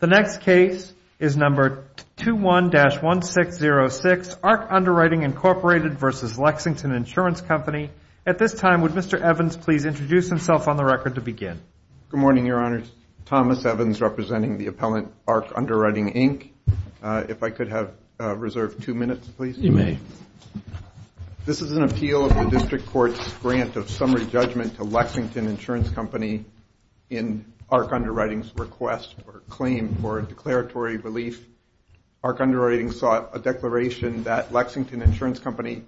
The next case is number 21-1606, ARC Underwriting, Inc. v. Lexington Insurance Company. At this time, would Mr. Evans please introduce himself on the record to begin? Good morning, Your Honors. Thomas Evans, representing the appellant ARC Underwriting, Inc. If I could have reserved two minutes, please. You may. This is an appeal of the District Court's grant of summary judgment to Lexington Insurance Company in ARC Underwriting's request or claim for a declaratory relief. ARC Underwriting sought a declaration that Lexington Insurance Company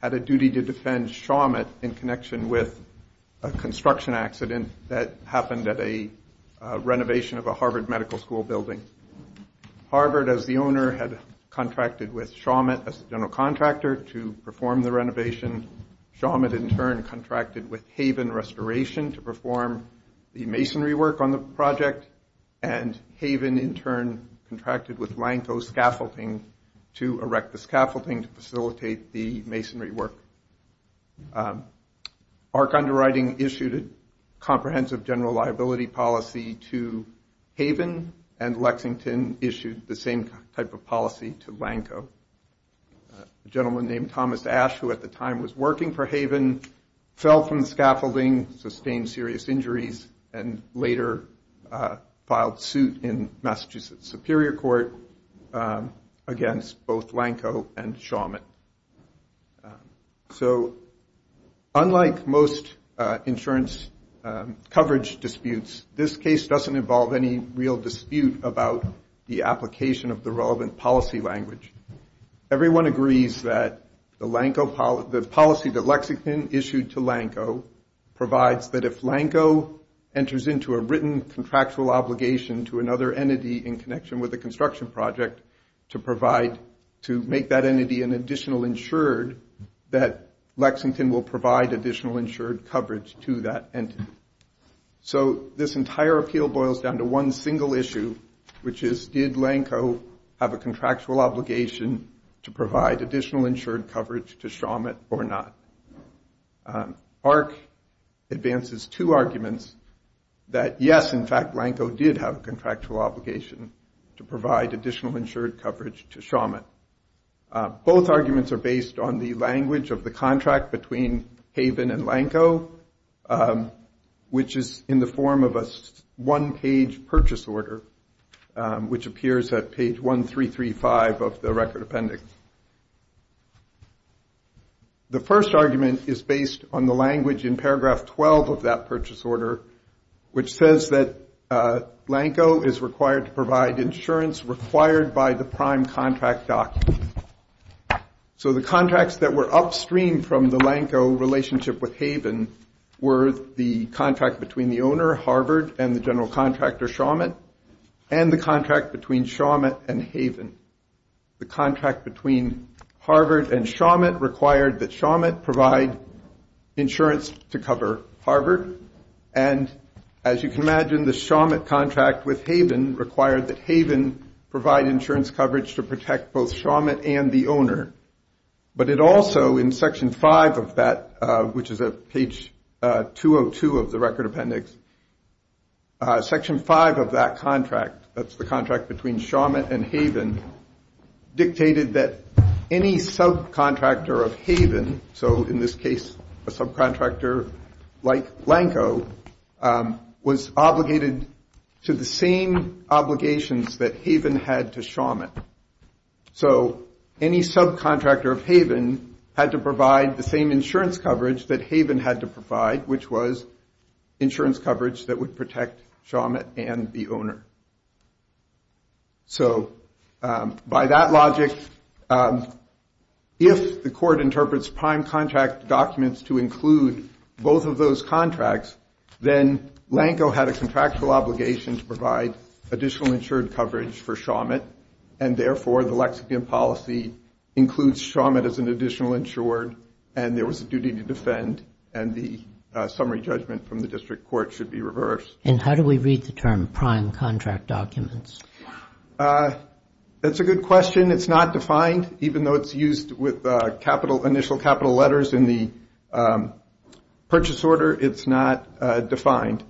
had a duty to defend Shawmut in connection with a construction accident that happened at a renovation of a Harvard Medical School building. Harvard as the owner had contracted with Shawmut as the general contractor to perform the renovation. Shawmut in turn contracted with Haven Restoration to perform the masonry work on the project, and Haven in turn contracted with Lanco Scaffolding to erect the scaffolding to facilitate the masonry work. ARC Underwriting issued a comprehensive general liability policy to Haven, and Lexington issued the same type of policy to Lanco. A gentleman named Thomas Ash, who at the time was working for Haven, fell from the scaffolding, sustained serious injuries, and later filed suit in Massachusetts Superior Court against both Lanco and Shawmut. So unlike most insurance coverage disputes, this case doesn't involve any real dispute about the application of the relevant policy language. Everyone agrees that the policy that Lexington issued to Lanco provides that if Lanco enters into a written contractual obligation to another entity in connection with a construction project to make that entity an additional insured, that Lexington will provide additional insured coverage to that entity. So this entire appeal boils down to one single issue, which is did Lanco have a contractual obligation to provide additional insured coverage to Shawmut or not? ARC advances two arguments that yes, in fact, Lanco did have a contractual obligation to provide additional insured coverage to Shawmut. Both arguments are based on the language of the contract between Haven and Lanco, which is in the form of a one-page purchase order, which appears at page 1335 of the record appendix. The first argument is based on the language in paragraph 12 of that purchase order, which says that Lanco is required to provide insurance required by the prime contract document. So the contracts that were upstream from the Lanco relationship with Haven were the contract between the owner, Harvard, and the general contractor, Shawmut, and the contract between Shawmut and Haven. The contract between Harvard and Shawmut required that Shawmut provide insurance to cover Harvard. And as you can imagine, the Shawmut contract with Haven required that Haven provide insurance coverage to protect both Shawmut and the owner. But it also, in section 5 of that, which is at page 202 of the record appendix, section 5 of that contract, that's the contract between Shawmut and Haven, dictated that any subcontractor of Haven, so in this case, a subcontractor like Lanco, was obligated to the same obligations that Haven had to Shawmut. So any subcontractor of Haven had to provide the same insurance coverage that Haven had to provide, which was insurance coverage that would protect Shawmut and the owner. So, by that logic, if the court interprets prime contract documents to include both of those contracts, then Lanco had a contractual obligation to provide additional insured coverage for Shawmut, and therefore, the lexicon policy includes Shawmut as an additional insured, and there was a duty to defend, and the summary judgment from the district court should be reversed. And how do we read the term prime contract documents? That's a good question. It's not defined, even though it's used with initial capital letters in the purchase order, it's not defined.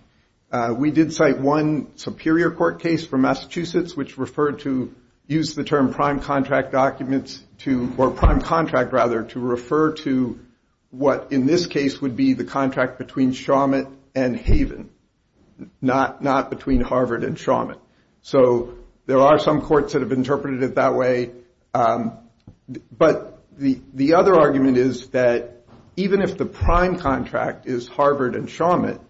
We did cite one superior court case from Massachusetts which referred to, used the term prime contract documents to, or prime contract, rather, to not between Harvard and Shawmut. So there are some courts that have interpreted it that way, but the other argument is that even if the prime contract is Harvard and Shawmut,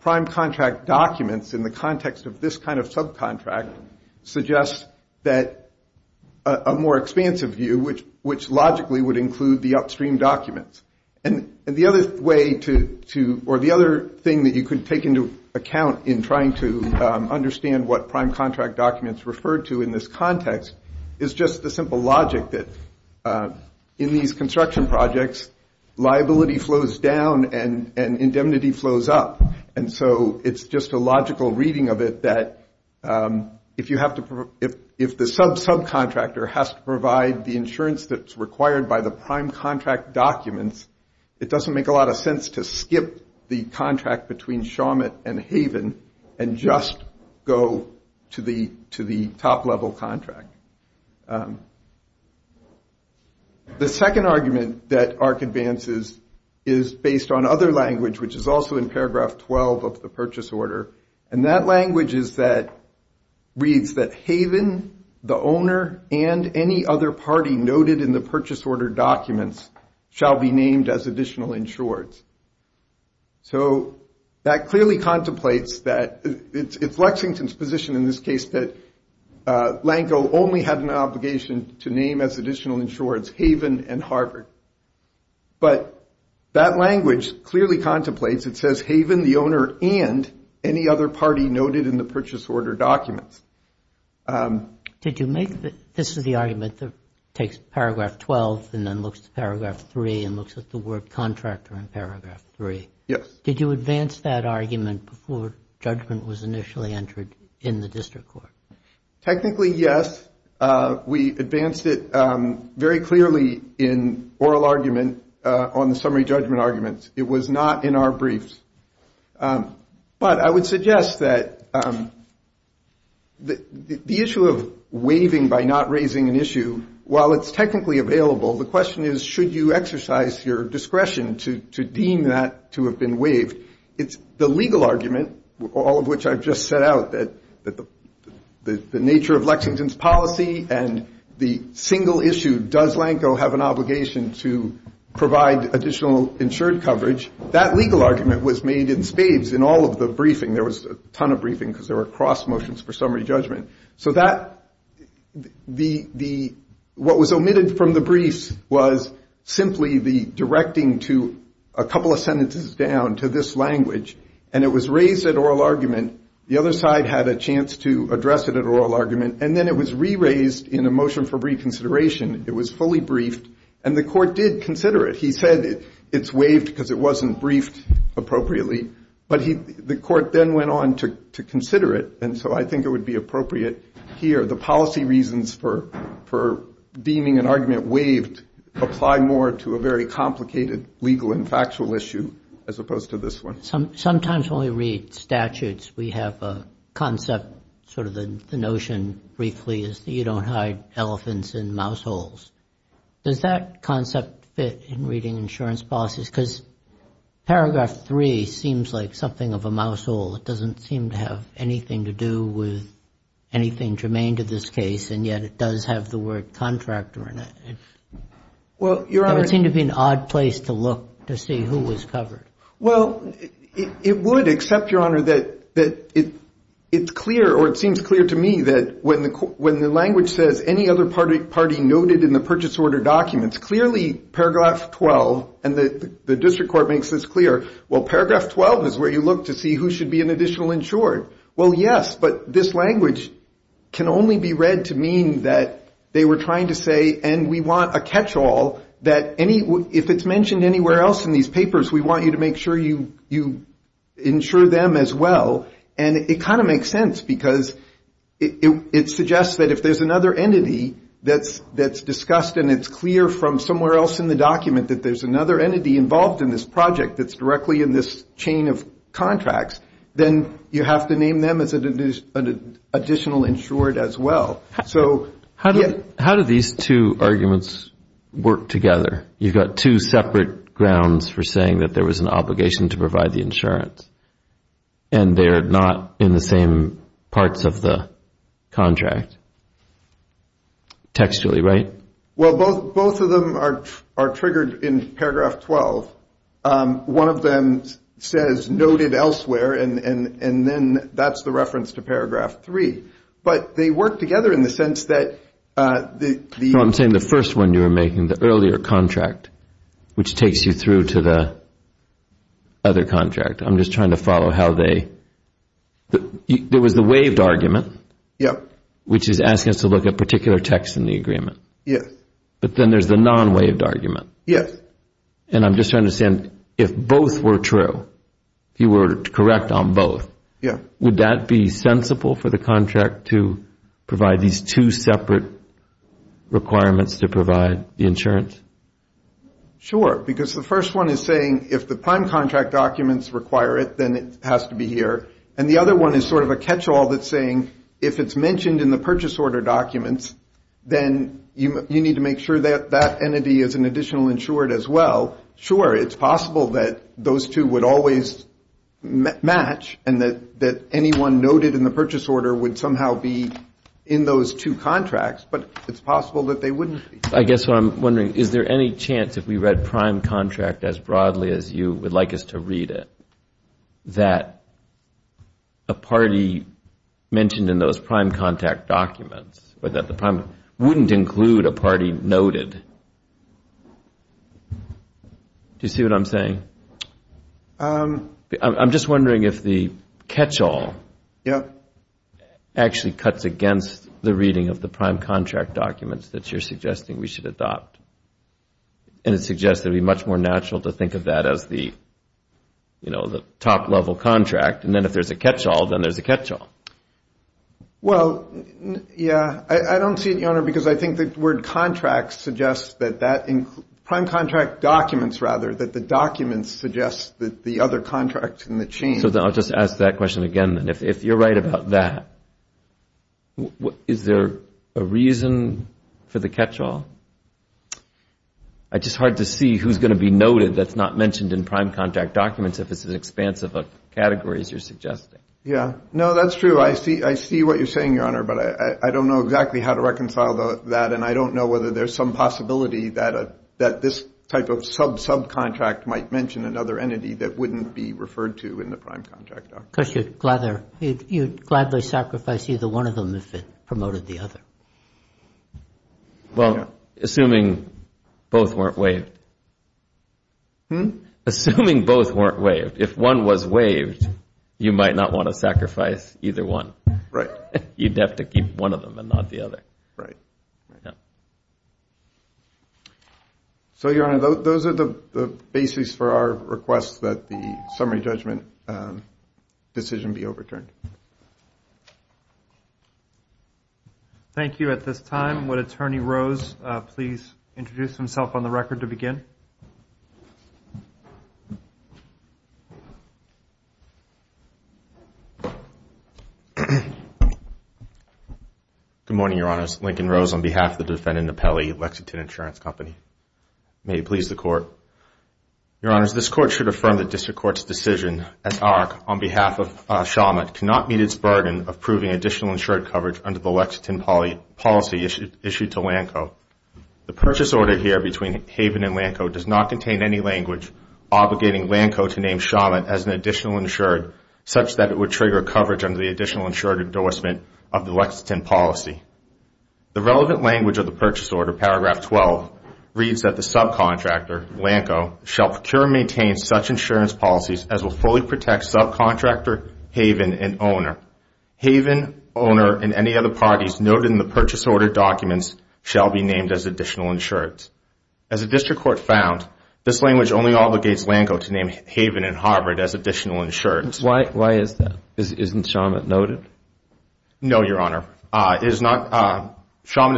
prime contract documents in the context of this kind of subcontract suggest that a more expansive view, which logically would include the upstream documents. And the other way to, or the other thing that you could take into account in trying to understand what prime contract documents refer to in this context is just the simple logic that in these construction projects, liability flows down and indemnity flows up, and so it's just a logical reading of it that if you have to, if the sub-subcontractor has to provide the insurance that's required by the prime contract documents, it doesn't make a lot of sense to skip the contract between Shawmut and Haven and just go to the top-level contract. The second argument that ARC advances is based on other language, which is also in paragraph 12 of the purchase order, and that language is that, reads that Haven, the owner, and any other party noted in the purchase order documents shall be named as additional insureds. So that clearly contemplates that, it's Lexington's position in this case that Lanco only had an obligation to name as additional insureds Haven and Harvard. But that language clearly contemplates, it says Haven, the owner, and any other party noted in the purchase order documents. Did you make, this is the argument that takes paragraph 12 and then looks at paragraph 3 and looks at the word contractor in paragraph 3. Yes. Did you advance that argument before judgment was initially entered in the district court? Technically, yes. We advanced it very clearly in oral argument on the summary judgment arguments. It was not in our briefs. But I would suggest that the issue of waiving by not raising an issue, while it's technically available, the question is, should you exercise your discretion to deem that to have been waived? It's the legal argument, all of which I've just set out, that the nature of Lexington's policy and the single issue, does Lanco have an obligation to provide additional insured coverage? That legal argument was made in spades in all of the briefing. There was a ton of briefing because there were cross motions for summary judgment. So that, what was omitted from the briefs was simply the directing to a couple of sentences down to this language. And it was raised at oral argument. The other side had a chance to address it at oral argument. And then it was re-raised in a motion for reconsideration. It was fully briefed. And the court did consider it. He said it's waived because it wasn't briefed appropriately. But the court then went on to consider it. And so I think it would be appropriate here, the policy reasons for deeming an argument waived apply more to a very complicated legal and factual issue as opposed to this one. Sometimes when we read statutes, we have a concept, sort of the notion, briefly, is that you don't hide elephants in mouse holes. Does that concept fit in reading insurance policies? Because paragraph three seems like something of a mouse hole. It doesn't seem to have anything to do with anything germane to this case. And yet it does have the word contractor in it. Well, Your Honor. It would seem to be an odd place to look to see who was covered. Well, it would except, Your Honor, that it's clear or it seems clear to me that when the purchase order documents, clearly paragraph 12, and the district court makes this clear, well, paragraph 12 is where you look to see who should be an additional insured. Well, yes, but this language can only be read to mean that they were trying to say, and we want a catch-all, that if it's mentioned anywhere else in these papers, we want you to make sure you insure them as well. And it kind of makes sense because it suggests that if there's another entity that's discussed and it's clear from somewhere else in the document that there's another entity involved in this project that's directly in this chain of contracts, then you have to name them as an additional insured as well. So how do these two arguments work together? You've got two separate grounds for saying that there was an obligation to provide the insurance. And they're not in the same parts of the contract. Textually, right? Well, both of them are triggered in paragraph 12. One of them says noted elsewhere, and then that's the reference to paragraph 3. But they work together in the sense that the... No, I'm saying the first one you were making, the earlier contract, which takes you through to the other contract. I'm just trying to follow how they... There was the waived argument, which is asking us to look at particular texts in the agreement. Yes. But then there's the non-waived argument. Yes. And I'm just trying to understand, if both were true, if you were correct on both, would that be sensible for the contract to provide these two separate requirements to provide the insurance? Sure. Because the first one is saying, if the prime contract documents require it, then it has to be here. And the other one is sort of a catch-all that's saying, if it's mentioned in the purchase order documents, then you need to make sure that that entity is an additional insured as well. Sure, it's possible that those two would always match, and that anyone noted in the purchase order would somehow be in those two contracts, but it's possible that they wouldn't be. I guess what I'm wondering, is there any chance, if we read prime contract as broadly as you would like us to read it, that a party mentioned in those prime contact documents, or that the prime... wouldn't include a party noted? Do you see what I'm saying? I'm just wondering if the catch-all... actually cuts against the reading of the prime contract documents that you're suggesting we should adopt. And it suggests it would be much more natural to think of that as the top-level contract, and then if there's a catch-all, then there's a catch-all. Well, yeah, I don't see it, Your Honor, because I think the word contracts suggests that that... prime contract documents, rather, that the documents suggest that the other contracts in the chain... I'll just ask that question again, then. If you're right about that, is there a reason for the catch-all? It's just hard to see who's going to be noted that's not mentioned in prime contract documents if it's an expansive of categories you're suggesting. Yeah, no, that's true. I see what you're saying, Your Honor, but I don't know exactly how to reconcile that, and I don't know whether there's some possibility that this type of sub-subcontract might mention another entity that wouldn't be referred to in the prime contract documents. Because you'd gladly sacrifice either one of them if it promoted the other. Well, assuming both weren't waived. Hmm? Assuming both weren't waived. If one was waived, you might not want to sacrifice either one. Right. You'd have to keep one of them and not the other. Right. So, Your Honor, those are the bases for our request that the summary judgment decision be overturned. Thank you. At this time, would Attorney Rose please introduce himself on the record to begin? Thank you. Good morning, Your Honors. Lincoln Rose on behalf of the defendant Napelli, Lexington Insurance Company. May it please the Court. Your Honors, this Court should affirm the District Court's decision that AHRQ, on behalf of Shawmut, cannot meet its burden of proving additional insured coverage under the Lexington policy issued to LANCO. The purchase order here between Haven and LANCO does not contain any language obligating LANCO to name Shawmut as an additional insured such that it would trigger coverage under the additional insured endorsement of the Lexington policy. The relevant language of the purchase order, paragraph 12, reads that the subcontractor, LANCO, shall procure and maintain such insurance policies as will fully protect subcontractor, Haven, and owner. Haven, owner, and any other parties noted in the purchase order documents shall be named as additional insureds. As the District Court found, this language only obligates LANCO to name Haven and Harvard as additional insureds. Why is that? Isn't Shawmut noted? No, Your Honor. Shawmut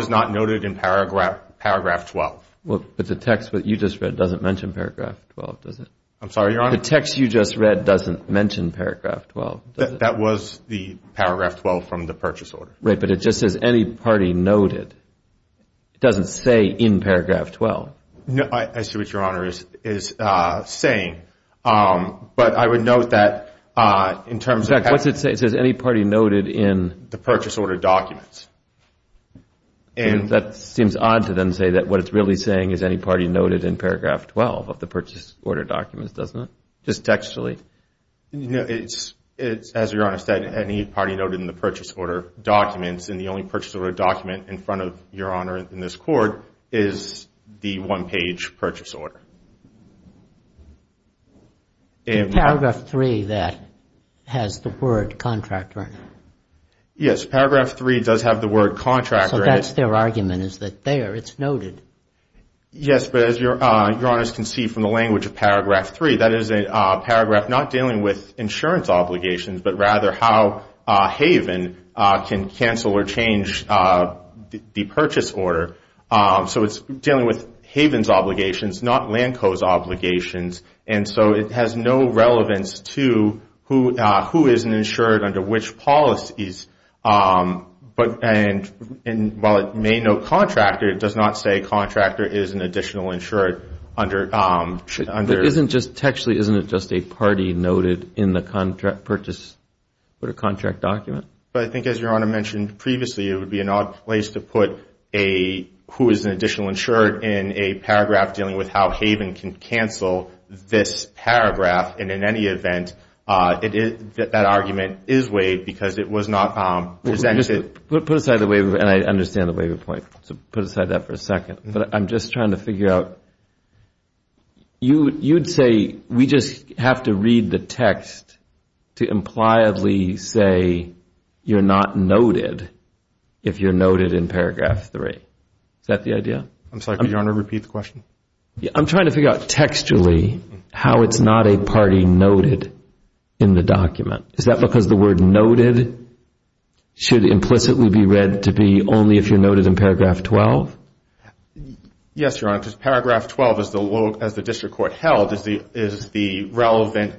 is not noted in paragraph 12. But the text that you just read doesn't mention paragraph 12, does it? I'm sorry, Your Honor? The text you just read doesn't mention paragraph 12, does it? That was the paragraph 12 from the purchase order. Right, but it just says any party noted. It doesn't say in paragraph 12. No, I see what Your Honor is saying. But I would note that in terms of... In fact, what's it say? It says any party noted in... The purchase order documents. And that seems odd to them to say that what it's really saying is any party noted in paragraph 12 of the purchase order documents, doesn't it? Just textually. No, it's, as Your Honor said, any party noted in the purchase order documents. And the only purchase order document in front of Your Honor in this court is the one-page purchase order. In paragraph 3, that has the word contractor in it. Yes, paragraph 3 does have the word contractor in it. So that's their argument, is that there it's noted. Yes, but as Your Honor can see from the language of paragraph 3, that is a paragraph not dealing with insurance obligations, but rather how Haven can cancel or change the purchase order. So it's dealing with Haven's obligations, not Lanco's obligations. And so it has no relevance to who is insured under which policies. And while it may note contractor, it does not say contractor is an additional insured under... Actually, isn't it just a party noted in the contract purchase order contract document? But I think as Your Honor mentioned previously, it would be an odd place to put a who is an additional insured in a paragraph dealing with how Haven can cancel this paragraph. And in any event, that argument is waived because it was not presented... Put aside the waiver, and I understand the waiver point. So put aside that for a second. But I'm just trying to figure out... You'd say we just have to read the text to impliedly say you're not noted if you're noted in paragraph 3. Is that the idea? I'm sorry, could Your Honor repeat the question? I'm trying to figure out textually how it's not a party noted in the document. Is that because the word noted should implicitly be read to be only if you're noted in paragraph 12? Yes, Your Honor. Because paragraph 12, as the district court held, is the relevant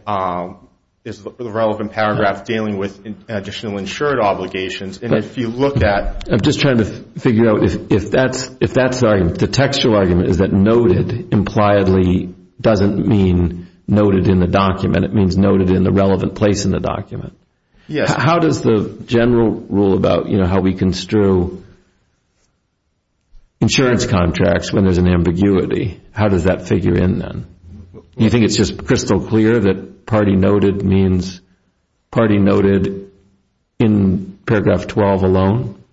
paragraph dealing with additional insured obligations. And if you look at... I'm just trying to figure out if that's the textual argument is that noted impliedly doesn't mean noted in the document. It means noted in the relevant place in the document. Yes. How does the general rule about how we construe insurance contracts when there's an ambiguity, how does that figure in then? Do you think it's just crystal clear that party noted means party noted in paragraph 12 alone?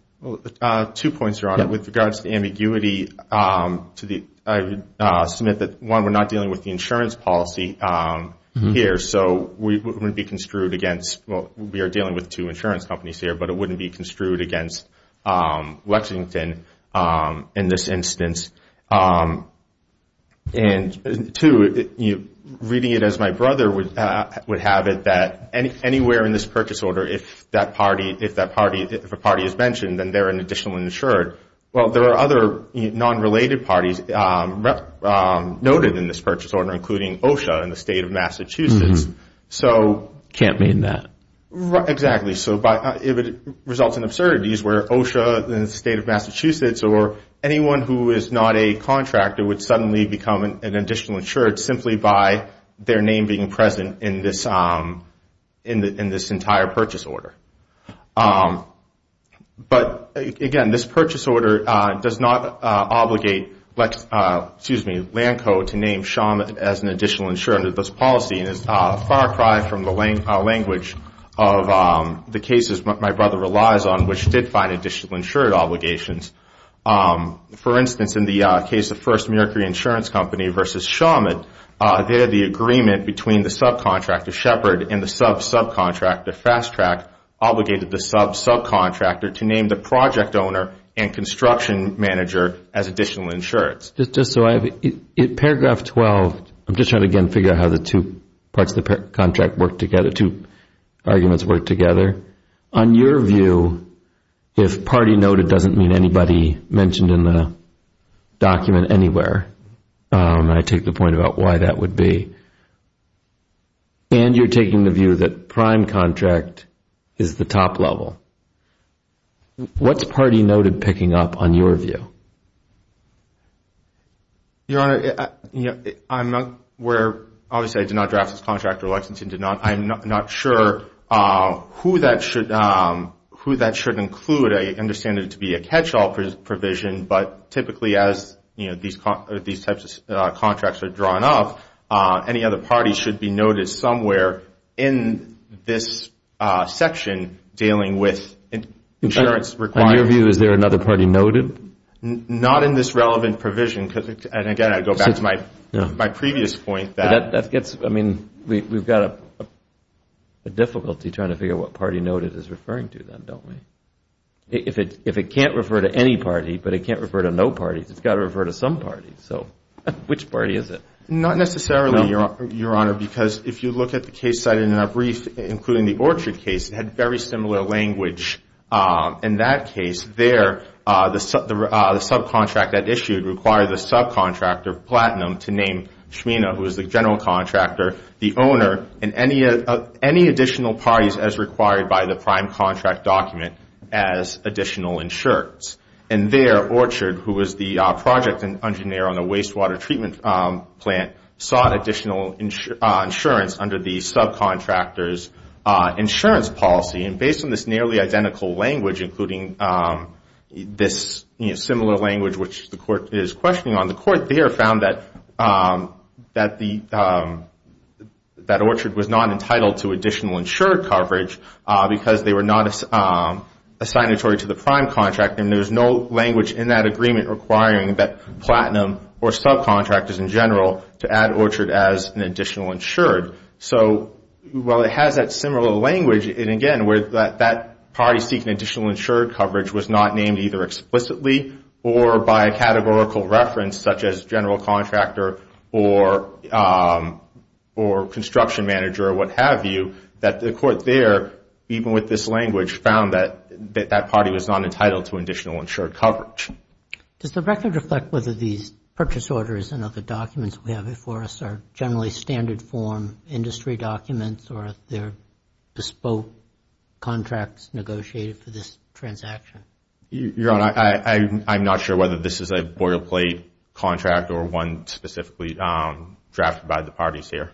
Two points, Your Honor. With regards to ambiguity, I would submit that, one, we're not dealing with the insurance policy here. So it wouldn't be construed against... Well, we are dealing with two insurance companies here, but it wouldn't be construed against Lexington in this instance. And two, reading it as my brother would have it that anywhere in this purchase order, if a party is mentioned, then they're an additional insured. Well, there are other non-related parties noted in this purchase order, including OSHA in the state of Massachusetts. Can't mean that. Exactly. So if it results in absurdities where OSHA in the state of Massachusetts or anyone who is not a contractor would suddenly become an additional insured simply by their name being present in this entire purchase order. But again, this purchase order does not obligate Lanco to name Shawmut as an additional insured under this policy and is far cry from the language of the cases my brother relies on, which did find additional insured obligations. For instance, in the case of First Mercury Insurance Company versus Shawmut, they had the agreement between the subcontractor, Shepard, and the sub-subcontractor, Fast Track, obligated the sub-subcontractor to name the project owner and construction manager as additional insured. Just so I have it, in paragraph 12, I'm just trying to, again, figure out how the two parts of the contract work together, two arguments work together. On your view, if party noted doesn't mean anybody mentioned in the document anywhere, and I take the point about why that would be, and you're taking the view that prime contract is the top level, what's party noted picking up on your view? Your Honor, I'm not aware. Obviously, I did not draft this contract or Lexington did not. I'm not sure who that should include. I understand it to be a catch-all provision, but typically as these types of contracts are drawn up, any other party should be noted somewhere in this section dealing with insurance requirements. On your view, is there another party noted? Not in this relevant provision, and again, I go back to my previous point. That gets, I mean, we've got a difficulty trying to figure out what party noted is referring to then, don't we? If it can't refer to any party, but it can't refer to no party, it's got to refer to some party, so which party is it? Not necessarily, Your Honor, because if you look at the case cited in our brief, including the Orchard case, it had very similar language in that case. There, the subcontract that issued required the subcontractor, Platinum, to name Schmina, who was the general contractor, the owner, and any additional parties as required by the prime contract document as additional insurance. And there, Orchard, who was the project engineer on the wastewater treatment plant, sought additional insurance under the subcontractor's insurance policy, and based on this nearly identical language, including this similar language which the Court is questioning on, the Court there found that Orchard was not entitled to additional insured coverage because they were not assignatory to the prime contractor, and there was no language in that agreement requiring that Platinum or subcontractors in general to add Orchard as an additional insured. So while it has that similar language, and again, where that party seeking additional insured coverage was not named either explicitly or by a categorical reference such as general contractor or construction manager or what have you, that the Court there, even with this language, found that that party was not entitled to additional insured coverage. Does the record reflect whether these purchase orders and other documents we have before us are generally standard form industry documents or if they're bespoke contracts negotiated for this transaction? Your Honor, I'm not sure whether this is a boilerplate contract or one specifically drafted by the parties here.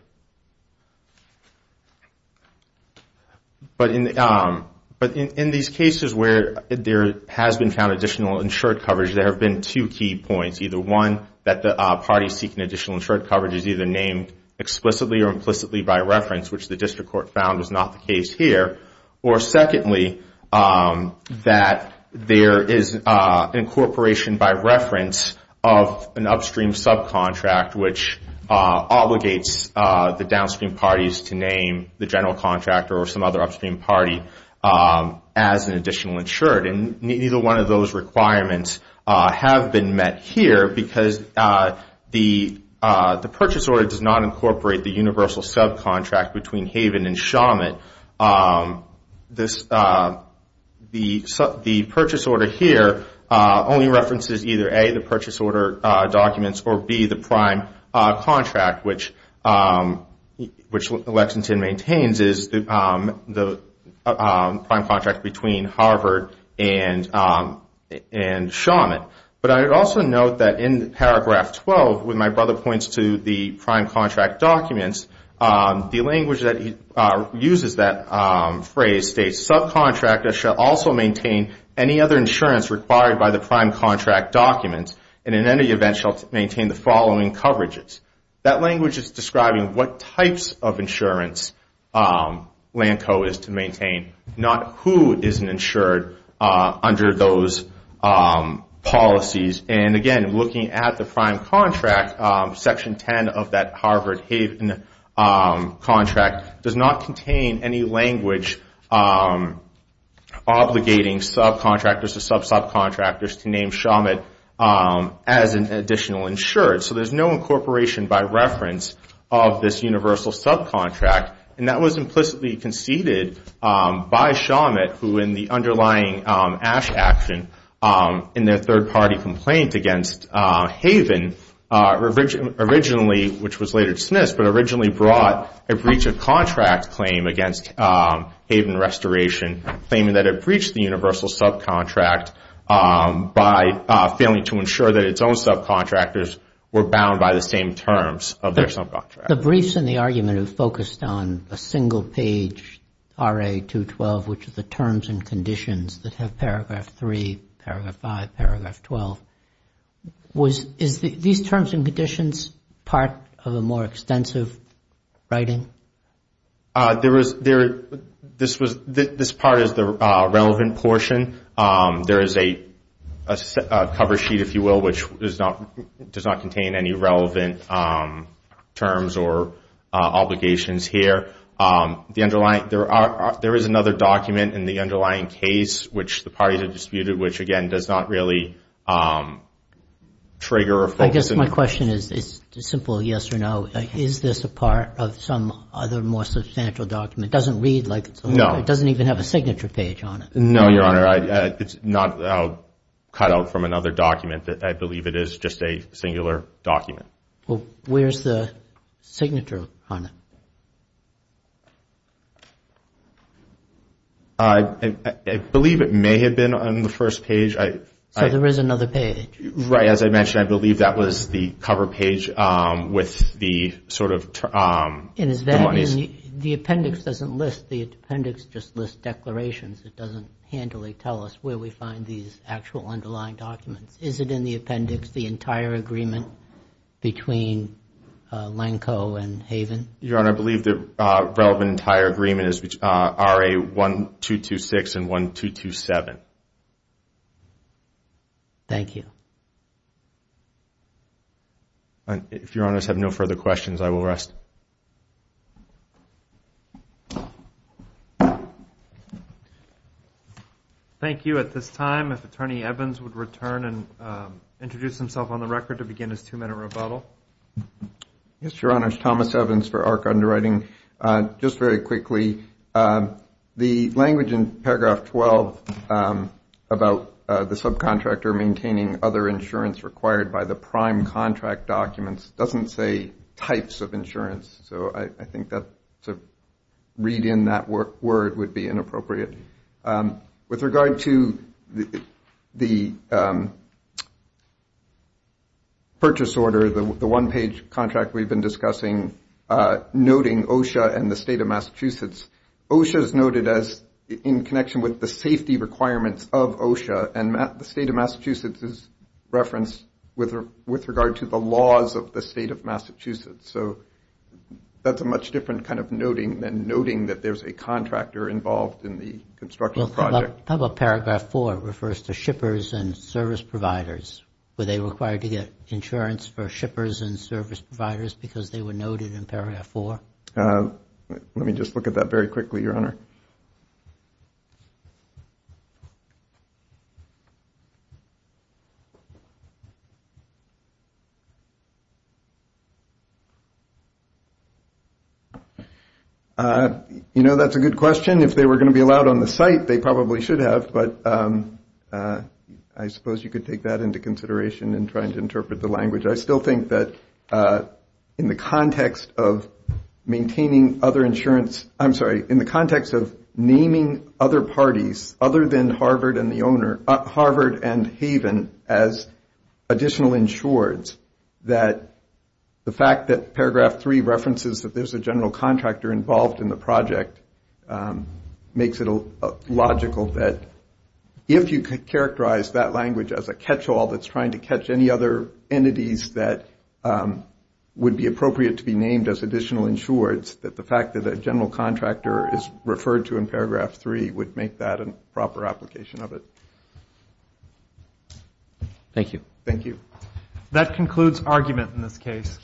But in these cases where there has been found additional insured coverage, there have been two key points. Either one, that the party seeking additional insured coverage is either named explicitly or implicitly by reference, which the District Court found was not the case here. Or secondly, that there is incorporation by reference of an upstream subcontract which obligates the downstream parties to name the general contractor or some other upstream party as an additional insured. And neither one of those requirements have been met here because the purchase order does not incorporate the universal subcontract between Haven and Shawmut. The purchase order here only references either A, the purchase order documents, or B, the prime contract, which Lexington maintains is the prime contract between Harvard and Shawmut. But I would also note that in paragraph 12, when my brother points to the prime contract documents, the language that uses that phrase states, subcontractors shall also maintain any other insurance required by the prime contract documents, and in any event shall maintain the following coverages. That language is describing what types of insurance LANCO is to maintain, not who is insured under those policies. And again, looking at the prime contract, section 10 of that Harvard-Haven contract does not contain any language obligating subcontractors or sub-subcontractors to name Shawmut as an additional insured. So there's no incorporation by reference of this universal subcontract. And that was implicitly conceded by Shawmut, who in the underlying Ash action, in their third-party complaint against Haven, originally, which was later dismissed, but originally brought a breach of contract claim against Haven Restoration, claiming that it breached the universal subcontract by failing to ensure that its own subcontractors were bound by the same terms of their subcontractors. The briefs in the argument have focused on a single page RA-212, which is the terms and conditions that have paragraph 3, paragraph 5, paragraph 12. Is these terms and conditions part of a more extensive writing? This part is the relevant portion. There is a cover sheet, if you will, which does not contain any relevant terms or obligations here. The underlying... There is another document in the underlying case which the parties have disputed, which again does not really trigger or focus... I guess my question is a simple yes or no. Is this a part of some other more substantial document? It doesn't read like... No. It doesn't even have a signature page on it. No, Your Honor. It's not cut out from another document. I believe it is just a singular document. Well, where's the signature on it? I believe it may have been on the first page. So there is another page? Right. As I mentioned, I believe that was the cover page with the sort of... The appendix doesn't list. The appendix just lists declarations. It doesn't handily tell us where we find these actual underlying documents. Is it in the appendix, the entire agreement between Lenko and Haven? Your Honor, I believe the relevant entire agreement is RA 1226 and 1227. Thank you. If Your Honors have no further questions, I will rest. Thank you. At this time, if Attorney Evans would return and introduce himself on the record to begin his two-minute rebuttal. Yes, Your Honors. Thomas Evans for Arc Underwriting. Just very quickly, the language in paragraph 12 about the subcontractor maintaining other insurance required by the prime contract documents doesn't say types of insurance. So I think to read in that word would be inappropriate. With regard to the purchase order, the one-page contract we've been discussing, noting OSHA and the State of Massachusetts, OSHA is noted as in connection with the safety requirements of OSHA, and the State of Massachusetts is referenced with regard to the laws of the State of Massachusetts. So that's a much different kind of noting than noting that there's a contractor involved in the construction project. How about paragraph 4? It refers to shippers and service providers. Were they required to get insurance for shippers and service providers because they were noted in paragraph 4? Let me just look at that very quickly, Your Honor. Your Honor? You know, that's a good question. If they were going to be allowed on the site, they probably should have, but I suppose you could take that into consideration in trying to interpret the language. I still think that in the context of maintaining other insurance, I'm sorry, in the context of naming other parties other than Harvard and the owner, Harvard and Haven as additional insureds, that the fact that paragraph 3 references that there's a general contractor involved in the project makes it logical that if you could characterize that language as a catch-all that's trying to catch any other entities that would be appropriate to be named as additional insureds, that the fact that a general contractor is referred to in paragraph 3 would make that a proper application of it. Thank you. Thank you. That concludes argument in this case.